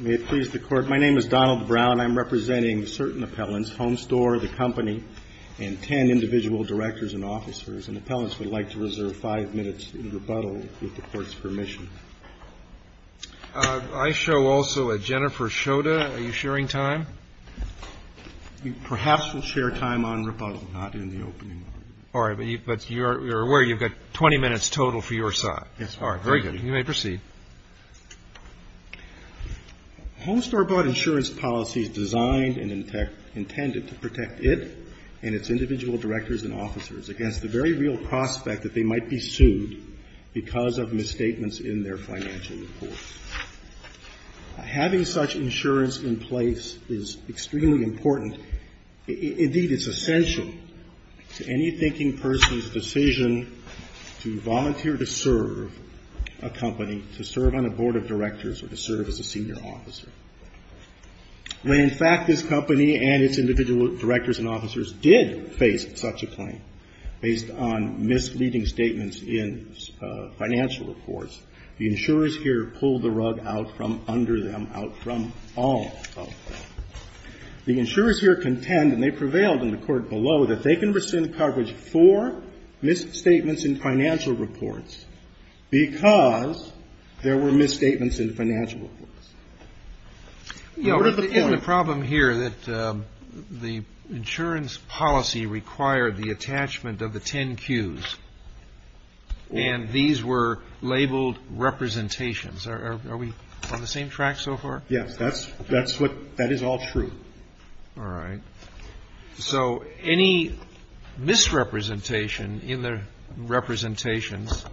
My name is Donald Brown. I'm representing certain appellants, Homestore, the company, and 10 individual directors and officers. And appellants would like to reserve five minutes in rebuttal with the Court's permission. I show also a Jennifer Schoda. Are you sharing time? Perhaps we'll share time on rebuttal, not in the opening argument. All right. But you're aware you've got 20 minutes total for your side. All right. Very good. You may proceed. Homestore bought insurance policies designed and intended to protect it and its individual directors and officers against the very real prospect that they might be sued because of misstatements in their financial report. Having such insurance in place is extremely important. Indeed, it's essential to any thinking person's decision to volunteer to serve a company, to serve on a board of directors, or to serve as a senior officer. When, in fact, this company and its individual directors and officers did face such a claim, based on misleading statements in financial reports, the insurers here pulled the rug out from under them, out from all of them. The insurers here contend, and they prevailed in the Court below, that they can rescind coverage for misstatements in financial reports because there were misstatements in financial reports. Now, what is the point? You know, isn't the problem here that the insurance policy required the attachment of the ten Qs, and these were labeled representations? Are we on the same track so far? Yes. That's what that is all true. All right. So any misrepresentation in the representations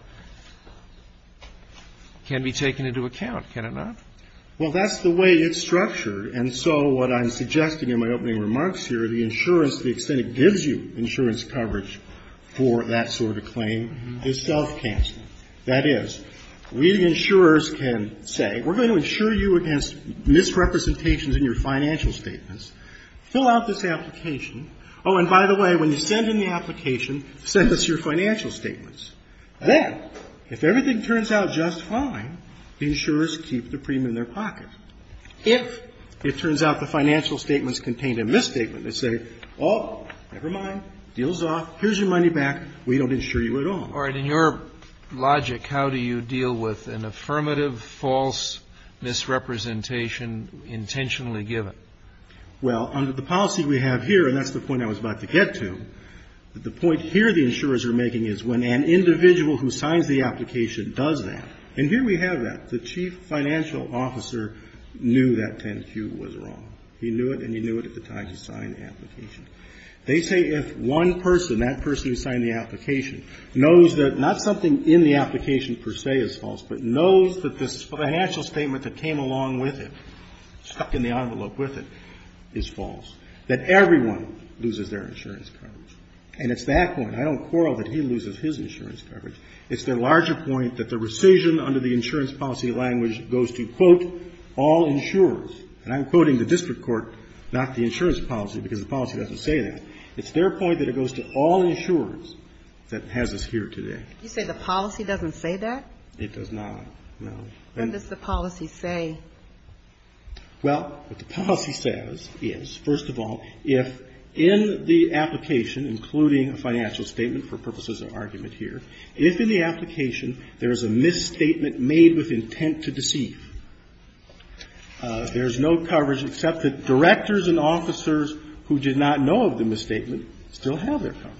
can be taken into account, can it not? Well, that's the way it's structured. And so what I'm suggesting in my opening remarks here, the insurance, the extent it gives you insurance coverage for that sort of claim, is self-canceling. That is, we, the insurers, can say, we're going to insure you against misrepresentations in your financial statements. Fill out this application. Oh, and by the way, when you send in the application, send us your financial statements. Then, if everything turns out just fine, the insurers keep the premium in their pocket. If it turns out the financial statements contained a misstatement, they say, oh, never mind, deal's off, here's your money back, we don't insure you at all. All right. In your logic, how do you deal with an affirmative false misrepresentation intentionally given? Well, under the policy we have here, and that's the point I was about to get to, the point here the insurers are making is when an individual who signs the application does that, and here we have that. The chief financial officer knew that 10Q was wrong. They say if one person, that person who signed the application, knows that not something in the application per se is false, but knows that the financial statement that came along with it, stuck in the envelope with it, is false, that everyone loses their insurance coverage. And it's that point. I don't quarrel that he loses his insurance coverage. It's the larger point that the rescission under the insurance policy language goes to, quote, all insurers. And I'm quoting the district court, not the insurance policy, because the policy doesn't say that. It's their point that it goes to all insurers that has us here today. You say the policy doesn't say that? It does not. No. Then what does the policy say? Well, what the policy says is, first of all, if in the application, including a financial statement for purposes of argument here, if in the application there is a misstatement made with intent to deceive, there is no coverage except that directors and officers who did not know of the misstatement still have their coverage.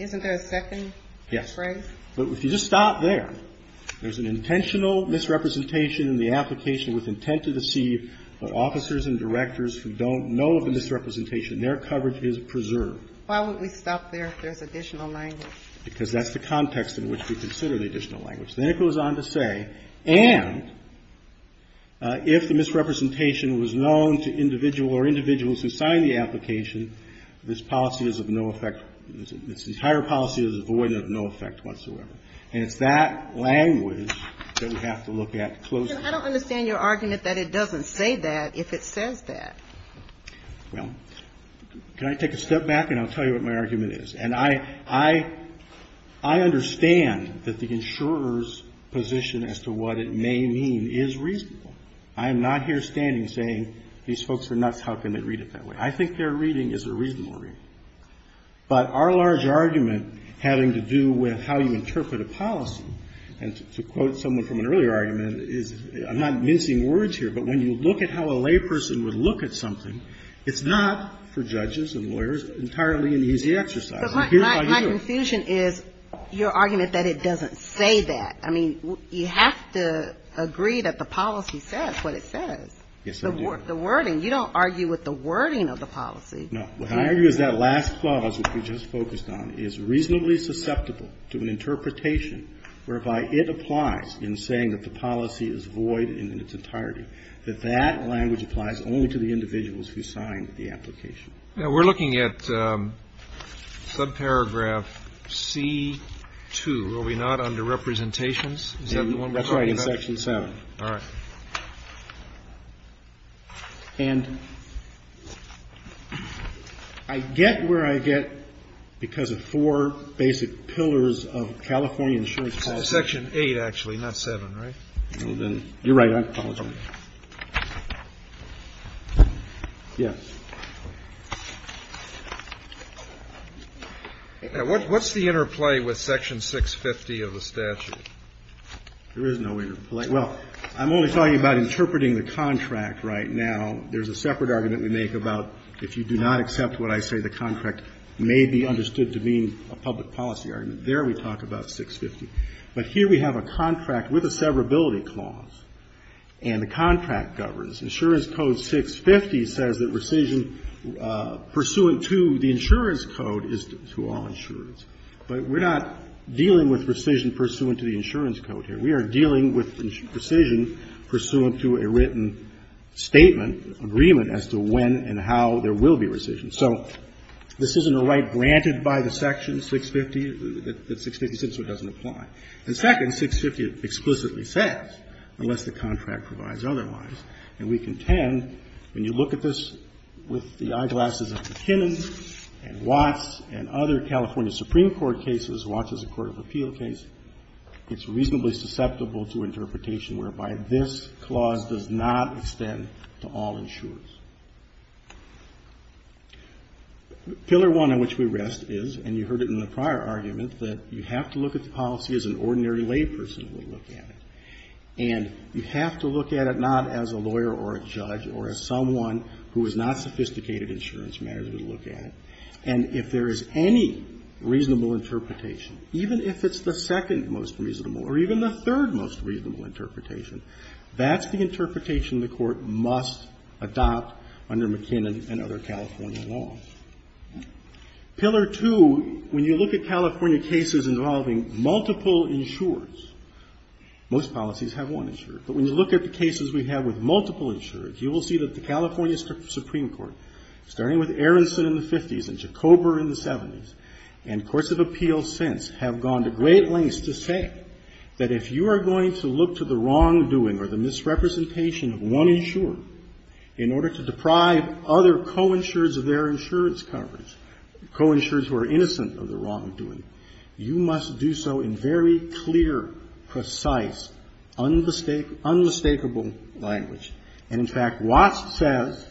Isn't there a second phrase? Yes. But if you just stop there, there's an intentional misrepresentation in the application with intent to deceive of officers and directors who don't know of the misrepresentation. Their coverage is preserved. Why would we stop there if there's additional language? Because that's the context in which we consider the additional language. Then it goes on to say, and if the misrepresentation was known to individual or individuals who signed the application, this policy is of no effect, this entire policy is void and of no effect whatsoever. And it's that language that we have to look at closely. I don't understand your argument that it doesn't say that if it says that. Well, can I take a step back and I'll tell you what my argument is? And I understand that the insurer's position as to what it may mean is reasonable. I am not here standing saying these folks are nuts, how can they read it that way? I think their reading is a reasonable reading. But our large argument having to do with how you interpret a policy, and to quote someone from an earlier argument, is I'm not mincing words here, but when you look at how a layperson would look at something, it's not, for judges and lawyers, entirely an easy exercise. And here's how you do it. But my confusion is your argument that it doesn't say that. I mean, you have to agree that the policy says what it says. Yes, I do. The wording. You don't argue with the wording of the policy. No. What I argue is that last clause, which we just focused on, is reasonably susceptible to an interpretation whereby it applies in saying that the policy is void in its entirety, that that language applies only to the individuals who signed the application. Now, we're looking at subparagraph C-2. Are we not under representations? Is that the one we're talking about? That's right, in Section 7. All right. And I get where I get because of four basic pillars of California insurance policy. Section 8, actually, not 7, right? You're right. I apologize. Yes. Now, what's the interplay with Section 650 of the statute? There is no interplay. Well, I'm only talking about interpreting the contract right now. There's a separate argument we make about if you do not accept what I say, the contract may be understood to mean a public policy argument. There we talk about 650. But here we have a contract with a severability clause, and the contract governs. Insurance Code 650 says that rescission pursuant to the insurance code is to all insurers. But we're not dealing with rescission pursuant to the insurance code here. We are dealing with rescission pursuant to a written statement, agreement as to when and how there will be rescission. So this isn't a right granted by the section 650 that 650c doesn't apply. And second, 650 explicitly says, unless the contract provides otherwise, and we contend when you look at this with the eyeglasses of McKinnon and Watts and other California Supreme Court cases, Watts is a court of appeal case, it's reasonably susceptible to interpretation whereby this clause does not extend to all insurers. Pillar one on which we rest is, and you heard it in the prior argument, that you have to look at the policy as an ordinary layperson would look at it. And you have to look at it not as a lawyer or a judge or as someone who is not sophisticated insurance manager would look at it. And if there is any reasonable interpretation, even if it's the second most reasonable or even the third most reasonable interpretation, that's the interpretation the Court must adopt under McKinnon and other California laws. Pillar two, when you look at California cases involving multiple insurers, most policies have one insurer, but when you look at the cases we have with multiple insurers, you will see that the California Supreme Court, starting with Aronson in the 50s and Jacober in the 70s, and courts of appeals since have gone to great lengths to say that if you are going to look to the wrongdoing or the misrepresentation of one insurer in order to deprive other coinsurers of their insurance coverage, coinsurers who are innocent of the wrongdoing, you must do so in very clear, precise, unmistakable language. And, in fact, Watts says,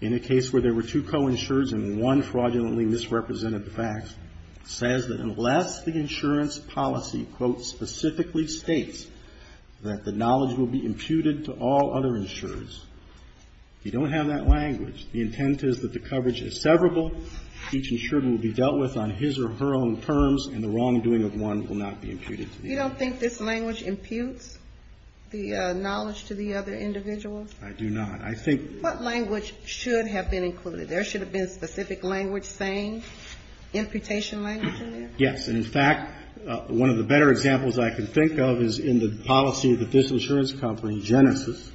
in a case where there were two coinsurers and one fraudulent insurer, which I don't think is adequately misrepresented, the fact says that unless the insurance policy, quote, specifically states that the knowledge will be imputed to all other insurers, you don't have that language. The intent is that the coverage is severable, each insurer will be dealt with on his or her own terms, and the wrongdoing of one will not be imputed to the other. You don't think this language imputes the knowledge to the other individuals? I do not. I think What language should have been included? There should have been a specific language saying imputation language in there? Yes. And, in fact, one of the better examples I can think of is in the policy that this insurance company, Genesis,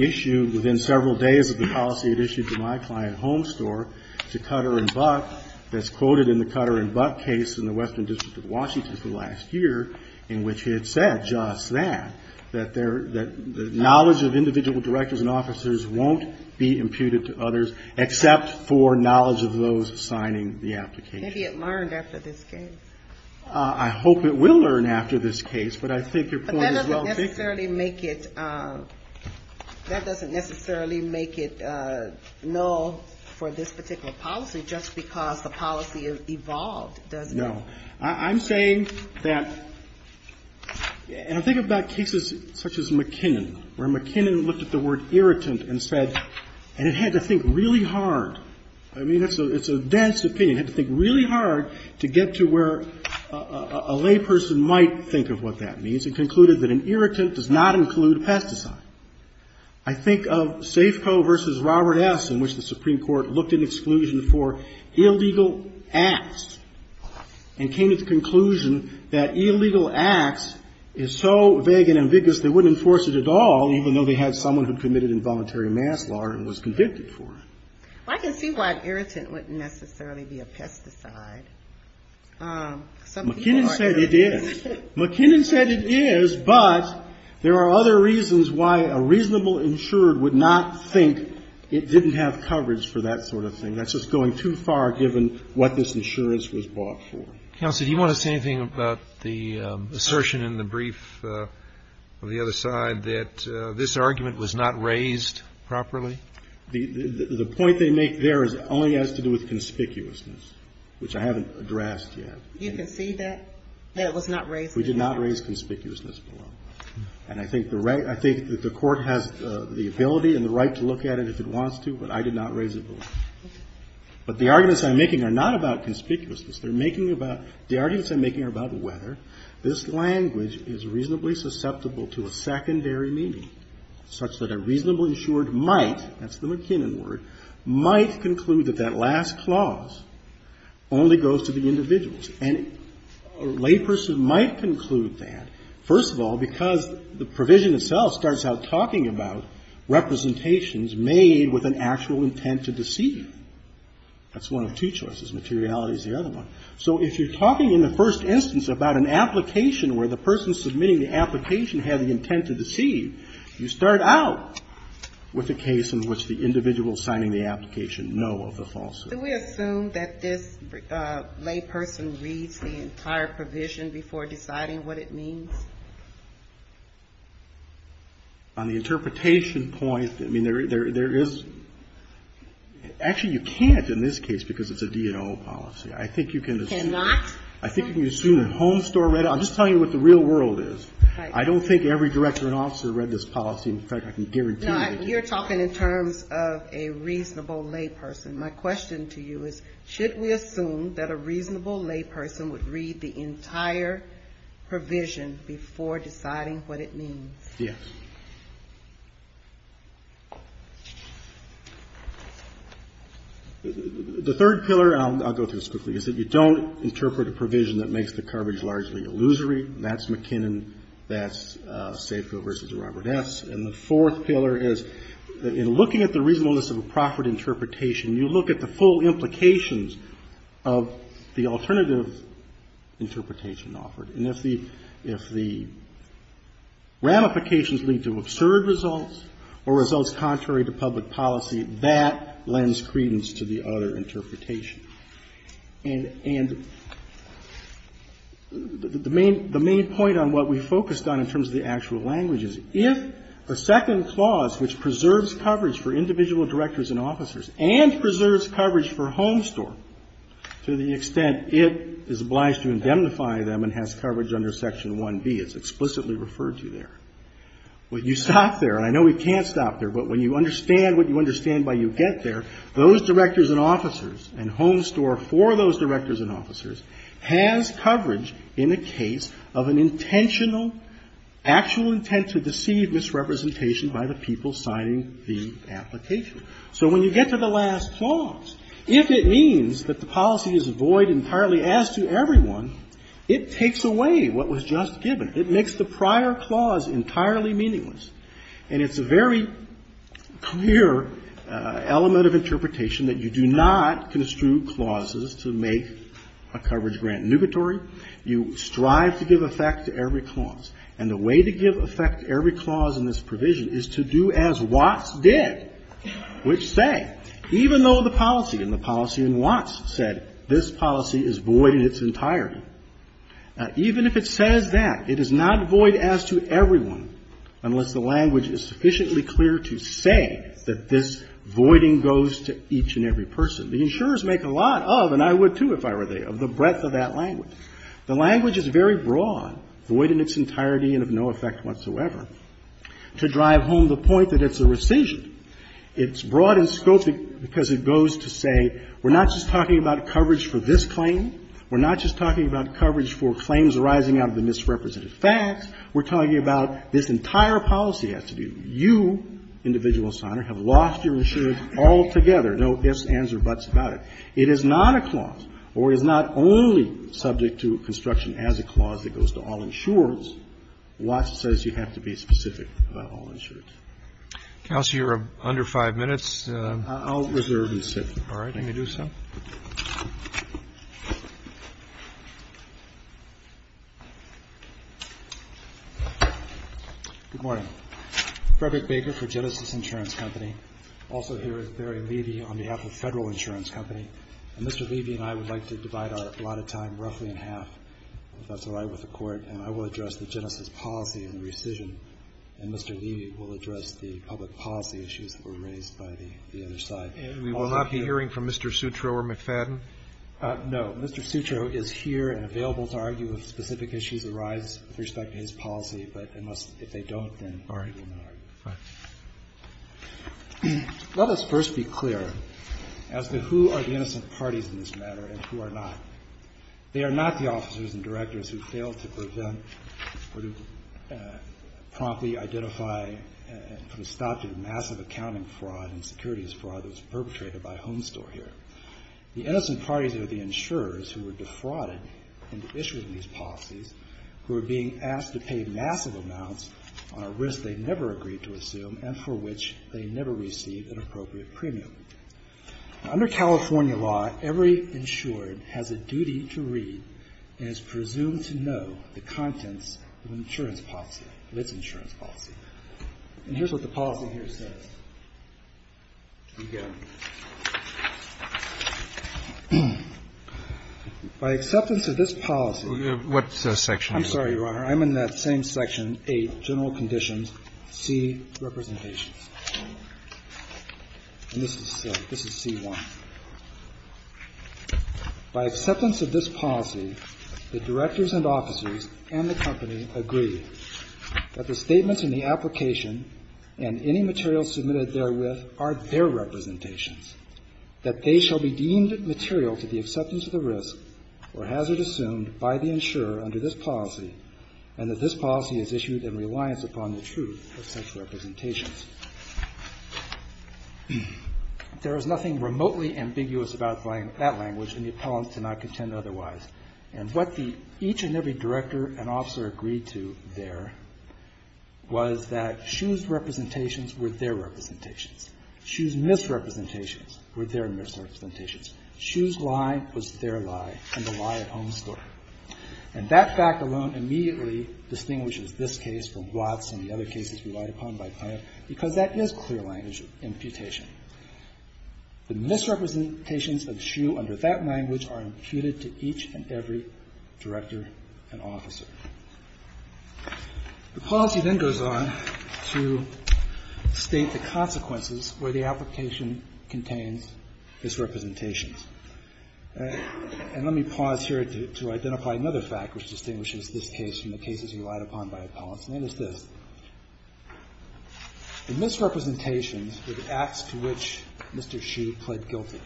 issued within several days of the policy it issued to my client, Home Store, to Cutter and Buck, that's quoted in the Cutter and Buck case in the Western District of Washington for the last year, in which it said just that, that knowledge of individual directors and officers won't be imputed to others except for knowledge of those signing the application. Maybe it learned after this case. I hope it will learn after this case, but I think your point is well taken. But that doesn't necessarily make it null for this particular policy just because the policy evolved, does it? No. I'm saying that, and I think about cases such as McKinnon, where McKinnon looked at the word irritant and said, and it had to think really hard. I mean, it's a dense opinion. It had to think really hard to get to where a layperson might think of what that means, and concluded that an irritant does not include pesticide. I think of Safeco v. Robert S., in which the Supreme Court looked at exclusion for illegal acts and came to the conclusion that illegal acts is so vague and ambiguous they wouldn't enforce it at all, even though they had someone who committed involuntary mass law and was convicted for it. Well, I can see why irritant wouldn't necessarily be a pesticide. McKinnon said it is. McKinnon said it is, but there are other reasons why a reasonable insurer would not think it didn't have coverage for that sort of thing. That's just going too far, given what this insurance was bought for. Counsel, do you want to say anything about the assertion in the brief on the other side that this argument was not raised properly? The point they make there only has to do with conspicuousness, which I haven't addressed yet. You can see that, that it was not raised? We did not raise conspicuousness. And I think the Court has the ability and the right to look at it if it wants to, but I did not raise it. But the arguments I'm making are not about conspicuousness. They're making about, the arguments I'm making are about whether this language is reasonably susceptible to a secondary meaning such that a reasonably insured might, that's the McKinnon word, might conclude that that last clause only goes to the individuals. And a layperson might conclude that, first of all, because the provision itself starts out talking about representations made with an actual intent to deceive. That's one of two choices. Materiality is the other one. So if you're talking in the first instance about an application where the person submitting the application had the intent to deceive, you start out with a case in which the individual signing the application know of the falsehood. So do we assume that this layperson reads the entire provision before deciding what it means? On the interpretation point, I mean, there is, actually you can't in this case because it's a D&O policy. I think you can assume. Cannot? I think you can assume that Homestore read it. I'm just telling you what the real world is. Right. I don't think every director and officer read this policy. In fact, I can guarantee that they did. No, you're talking in terms of a reasonable layperson. My question to you is, should we assume that a reasonable layperson would read the entire provision before deciding what it means? Yes. The third pillar, and I'll go through this quickly, is that you don't interpret a provision that makes the coverage largely illusory. That's McKinnon. That's Safeville v. Robert S. And the fourth pillar is that in looking at the reasonableness of a proffered interpretation, you look at the full implications of the alternative interpretation offered. And if the ramifications lead to absurd results or results contrary to public policy, that lends credence to the other interpretation. And the main point on what we focused on in terms of the actual language is, if the second clause, which preserves coverage for individual directors and officers and preserves coverage for homestore to the extent it is obliged to indemnify them and has coverage under Section 1B, it's explicitly referred to there. When you stop there, and I know we can't stop there, but when you understand what you understand by you get there, those directors and officers and homestore for those directors and officers has coverage in a case of an intentional, actual misrepresentation by the people signing the application. So when you get to the last clause, if it means that the policy is void entirely as to everyone, it takes away what was just given. It makes the prior clause entirely meaningless. And it's a very clear element of interpretation that you do not construe clauses to make a coverage grant nugatory. You strive to give effect to every clause. And the way to give effect to every clause in this provision is to do as Watts did, which said, even though the policy and the policy in Watts said this policy is void in its entirety, even if it says that, it is not void as to everyone unless the language is sufficiently clear to say that this voiding goes to each and every person. The insurers make a lot of, and I would, too, if I were there, of the breadth of that language. The language is very broad, void in its entirety and of no effect whatsoever, to drive home the point that it's a rescission. It's broad in scope because it goes to say we're not just talking about coverage for this claim. We're not just talking about coverage for claims arising out of the misrepresented facts. We're talking about this entire policy has to do. You, individual signer, have lost your insurance altogether, no ifs, ands, or buts about It is not a clause or is not only subject to construction as a clause that goes to all insurers. Watts says you have to be specific about all insurers. Roberts. You're under 5 minutes. I'll reserve and sit. All right. Let me do so. Good morning. Frederick Baker for Genesis Insurance Company. Also here is Barry Levy on behalf of Federal Insurance Company. And Mr. Levy and I would like to divide our allotted time roughly in half if that's all right with the Court. And I will address the Genesis policy and rescission. And Mr. Levy will address the public policy issues that were raised by the other side. And we will not be hearing from Mr. Sutro or McFadden? No. Mr. Sutro is here and available to argue if specific issues arise with respect to his policy. But if they don't, then Barry will not argue. All right. Let us first be clear as to who are the innocent parties in this matter and who are not. They are not the officers and directors who failed to prevent or to promptly identify and put a stop to the massive accounting fraud and securities fraud that was perpetrated by Homestore here. The innocent parties are the insurers who were defrauded into issuing these policies, who are being asked to pay massive amounts on a risk they never agreed to assume and for which they never received an appropriate premium. Under California law, every insured has a duty to read and is presumed to know the contents of an insurance policy, of its insurance policy. And here's what the policy here says. Again, by acceptance of this policy. What section are you in? I'm sorry, Your Honor. I'm in that same section, 8, general conditions, C, representations. And this is C1. By acceptance of this policy, the directors and officers and the company agree that the statements in the application and any materials submitted therewith are their representations, that they shall be deemed material to the acceptance of the risk or hazard assumed by the insurer under this policy and that this policy is issued in reliance upon the truth of such representations. There is nothing remotely ambiguous about that language in the appellant to not contend otherwise. And what each and every director and officer agreed to there was that Shu's representations were their representations. Shu's misrepresentations were their misrepresentations. Shu's lie was their lie and the lie of Homestore. And that fact alone immediately distinguishes this case from Watts and the other cases relied upon by Planned, because that is clear language imputation. The misrepresentations of Shu under that language are imputed to each and every director and officer. The policy then goes on to state the consequences where the application contains misrepresentations. And let me pause here to identify another fact which distinguishes this case from the cases relied upon by appellants, and that is this. The misrepresentations were the acts to which Mr. Shu pled guilty,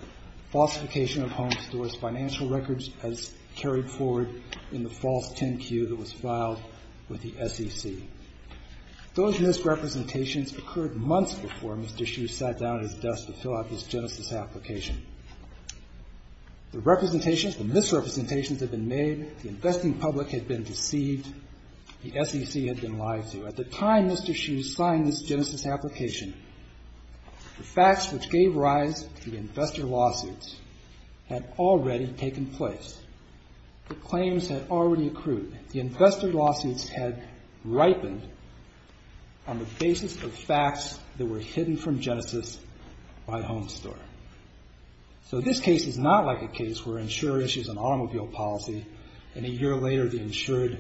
falsification of Homestore's financial records as carried forward in the false 10-Q that was filed with the SEC. Those misrepresentations occurred months before Mr. Shu sat down at his desk to fill out this genesis application. The representations, the misrepresentations had been made. The investing public had been deceived. The SEC had been lied to. At the time Mr. Shu signed this genesis application, the facts which gave rise to the investor lawsuits had already taken place. The claims had already accrued. The investor lawsuits had ripened on the basis of facts that were hidden from genesis by Homestore. So this case is not like a case where an insurer issues an automobile policy, and a year later the insurer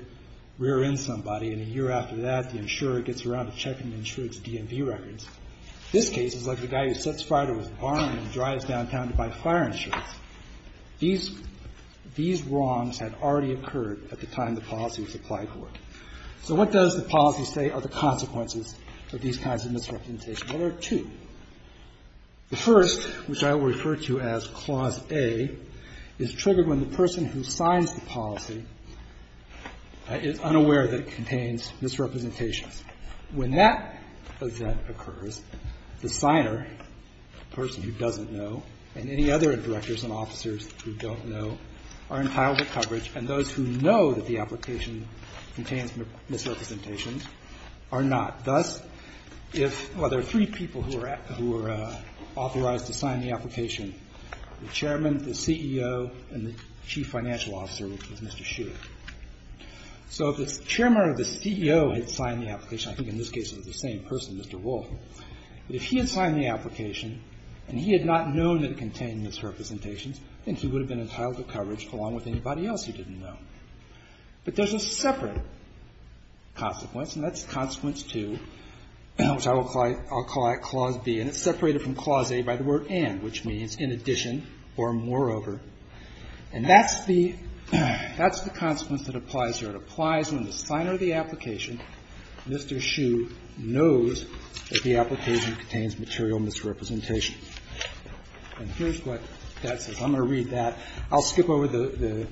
rears in somebody, and a year after that the insurer gets around to checking the insurer's DMV records. This case is like the guy who sets fire to his barn and drives downtown to buy fire insurance. These wrongs had already occurred at the time the policy was applied for. So what does the policy say are the consequences of these kinds of misrepresentations? There are two. The first, which I will refer to as Clause A, is triggered when the person who signs the policy is unaware that it contains misrepresentations. When that event occurs, the signer, the person who doesn't know, and any other directors and officers who don't know, are entitled to coverage, and those who know that the application contains misrepresentations are not. Thus, if, well, there are three people who are authorized to sign the application, the chairman, the CEO, and the chief financial officer, which is Mr. Hsu. So if the chairman or the CEO had signed the application, I think in this case it was the same person, Mr. Wolf, but if he had signed the application and he had not known that it contained misrepresentations, then he would have been entitled to coverage along with anybody else who didn't know. But there's a separate consequence, and that's Consequence 2, which I will call out Clause B, and it's separated from Clause A by the word and, which means in addition or moreover. And that's the consequence that applies here. It applies when the signer of the application, Mr. Hsu, knows that the application contains material misrepresentations. And here's what that says. I'm going to read that. I'll skip over the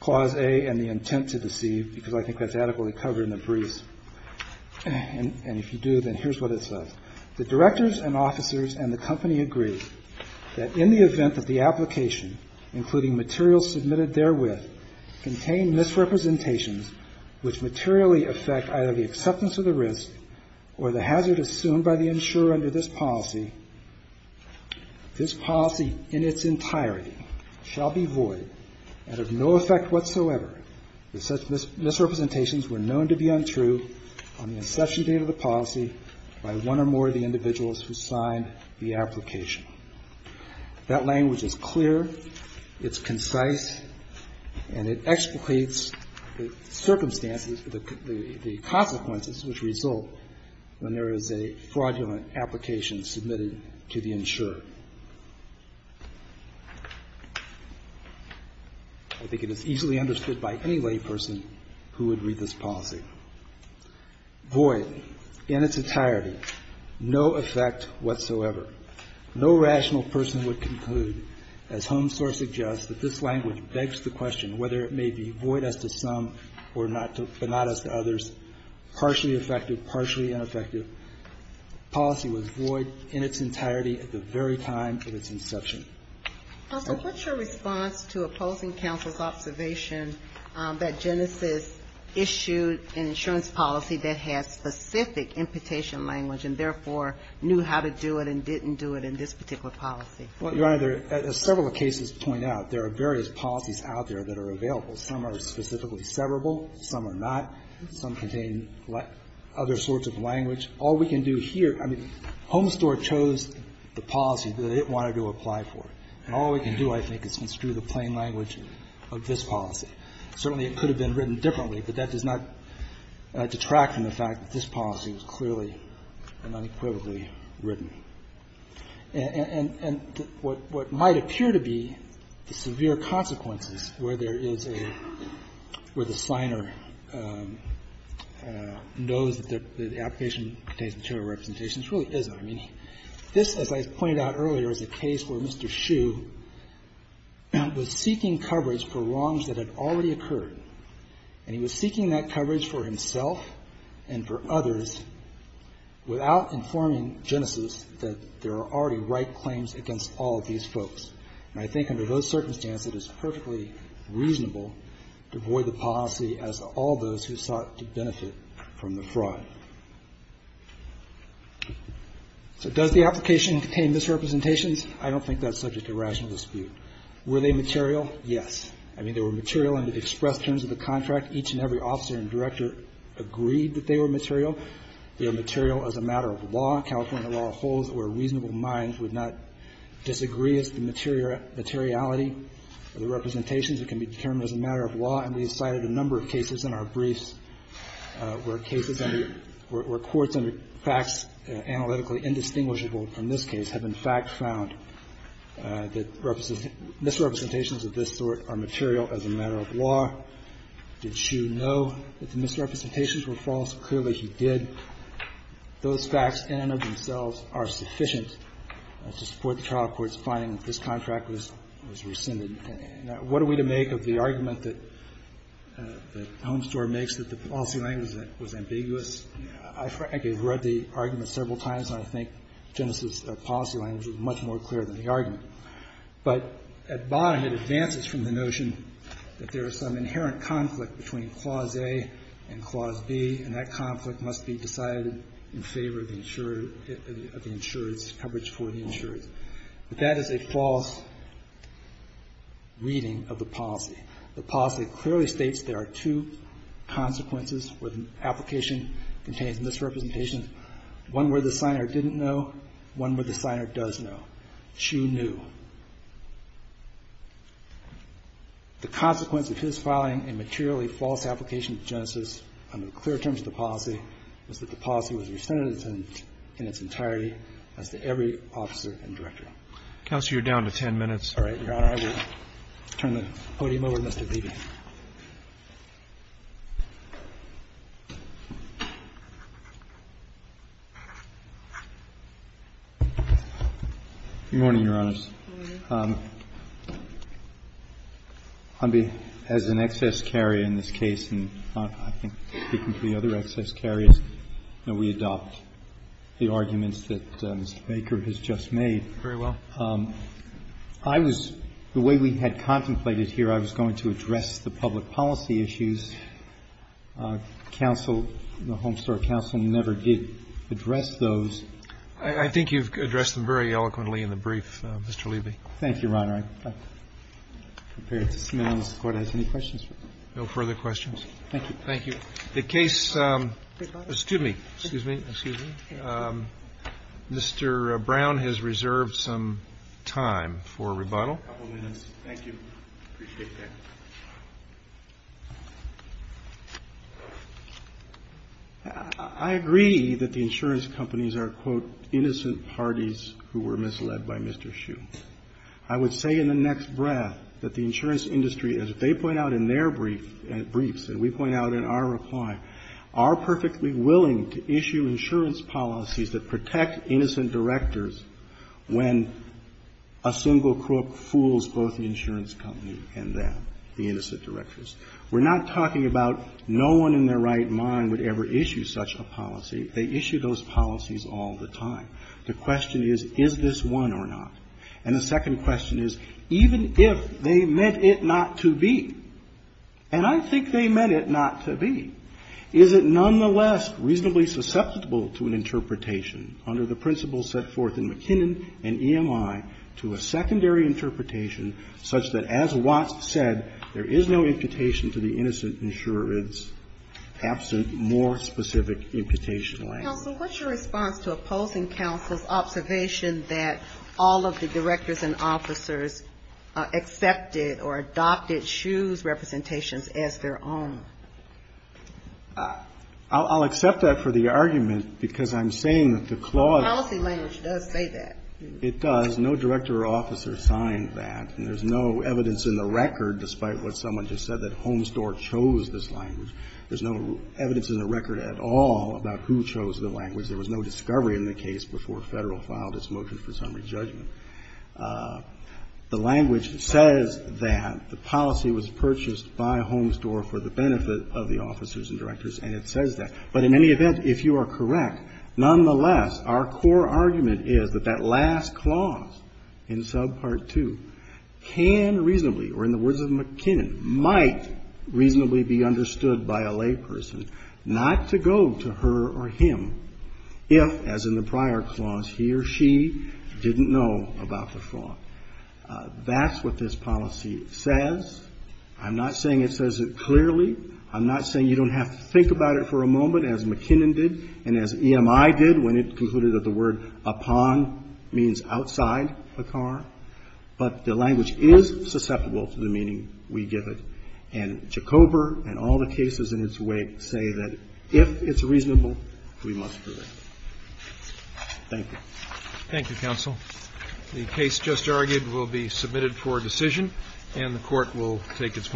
Clause A and the intent to deceive because I think that's adequately covered in the briefs. And if you do, then here's what it says. The directors and officers and the company agree that in the event that the application, including materials submitted therewith, contain misrepresentations which materially affect either the acceptance of the risk or the hazard assumed by the insurer under this policy, this policy in its entirety shall be void and of no effect whatsoever if such misrepresentations were known to be untrue on the inception date of the policy by one or more of the individuals who signed the application. That language is clear. It's concise. And it explicates the circumstances, the consequences which result when there is a fraudulent application submitted to the insurer. I think it is easily understood by any layperson who would read this policy. Void in its entirety. No effect whatsoever. No rational person would conclude, as Home Source suggests, that this language begs the question whether it may be void as to some or not as to others, partially effective, partially ineffective. Policy was void in its entirety at the very time of its inception. So what's your response to opposing counsel's observation that Genesis issued an insurance policy that has specific imputation language and, therefore, knew how to do it and didn't do it in this particular policy? Your Honor, as several cases point out, there are various policies out there that are available. Some are specifically severable. Some are not. Some contain other sorts of language. All we can do here, I mean, Home Store chose the policy that it wanted to apply for, and all we can do, I think, is construe the plain language of this policy. Certainly, it could have been written differently, but that does not detract from the fact that this policy was clearly and unequivocally written. And what might appear to be the severe consequences where there is a, where the signer knows that the application contains material representations really isn't. I mean, this, as I pointed out earlier, is a case where Mr. Hsu was seeking coverage for wrongs that had already occurred, and he was seeking that coverage for himself and for others without informing Genesis that there are already right claims against all of these folks. And I think under those circumstances, it is perfectly reasonable to void the policy as all those who sought to benefit from the fraud. So does the application contain misrepresentations? I don't think that's subject to rational dispute. Were they material? Yes. I mean, they were material and they expressed terms of the contract. Each and every officer and director agreed that they were material. They are material as a matter of law. California law holds that where reasonable minds would not disagree as to the materiality of the representations, it can be determined as a matter of law. And we cited a number of cases in our briefs where cases under or courts under facts analytically indistinguishable from this case have, in fact, found that misrepresentations of this sort are material as a matter of law. Did Hsu know that the misrepresentations were false? Clearly, he did. Those facts in and of themselves are sufficient to support the trial court's finding that this contract was rescinded. What are we to make of the argument that Homestore makes that the policy language was ambiguous? I frankly have read the argument several times, and I think Genesis' policy language is much more clear than the argument. But at bottom, it advances from the notion that there is some inherent conflict between Clause A and Clause B, and that conflict must be decided in favor of the insurer, of the insurer's coverage for the insurer. But that is a false reading of the policy. The policy clearly states there are two consequences where the application contains misrepresentations, one where the signer didn't know, one where the signer does know. Hsu knew. The consequence of his filing a materially false application of Genesis under the clear terms of the policy was that the policy was rescinded in its entirety as to every officer and director. Roberts. You're down to 10 minutes. All right, Your Honor, I will turn the podium over to Mr. Beebe. Good morning, Your Honors. Good morning. As an excess carrier in this case, and I think speaking to the other excess carriers, we adopt the arguments that Mr. Baker has just made. Very well. I was, the way we had contemplated here, I was going to address the public policy issues. Counsel, the Homestore Counsel, never did address those. I think you've addressed them very eloquently in the brief, Mr. Leiby. Thank you, Your Honor. I'm prepared to see if the Court has any questions. No further questions. Thank you. Thank you. The case, excuse me, excuse me, excuse me. Mr. Brown has reserved some time for rebuttal. A couple minutes. Thank you. Appreciate that. I agree that the insurance companies are, quote, innocent parties who were misled by Mr. Hsu. I would say in the next breath that the insurance industry, as they point out in their briefs and we point out in our reply, are perfectly willing to issue insurance policies that protect innocent directors when a single crook fools both the insurance company and them, the innocent directors. We're not talking about no one in their right mind would ever issue such a policy. They issue those policies all the time. The question is, is this one or not? And the second question is, even if they meant it not to be, and I think they meant it not to be, is it nonetheless reasonably susceptible to an interpretation under the principles set forth in McKinnon and EMI to a secondary interpretation such that, as Watts said, there is no imputation to the innocent insurance absent more specific imputation language? Counsel, what's your response to opposing counsel's observation that all of the directors and officers accepted or adopted Hsu's representations as their own? I'll accept that for the argument, because I'm saying that the clause of the policy language does say that. It does. No director or officer signed that, and there's no evidence in the record, despite what someone just said, that Homestore chose this language. There's no evidence in the record at all about who chose the language. There was no discovery in the case before Federal filed its motion for summary judgment. The language says that the policy was purchased by Homestore for the benefit of the officers and directors, and it says that. But in any event, if you are correct, nonetheless, our core argument is that that last clause in subpart 2 can reasonably, or in the words of McKinnon, might reasonably be understood by a layperson not to go to her or him if, as in the prior clause, he or she didn't know about the fraud. That's what this policy says. I'm not saying it says it clearly. I'm not saying you don't have to think about it for a moment, as McKinnon did and as EMI did when it concluded that the word upon means outside a car. But the language is susceptible to the meaning we give it, and Jacober and all the cases in its wake say that if it's reasonable, we must do it. Thank you. Thank you, counsel. The case just argued will be submitted for decision, and the Court will take its morning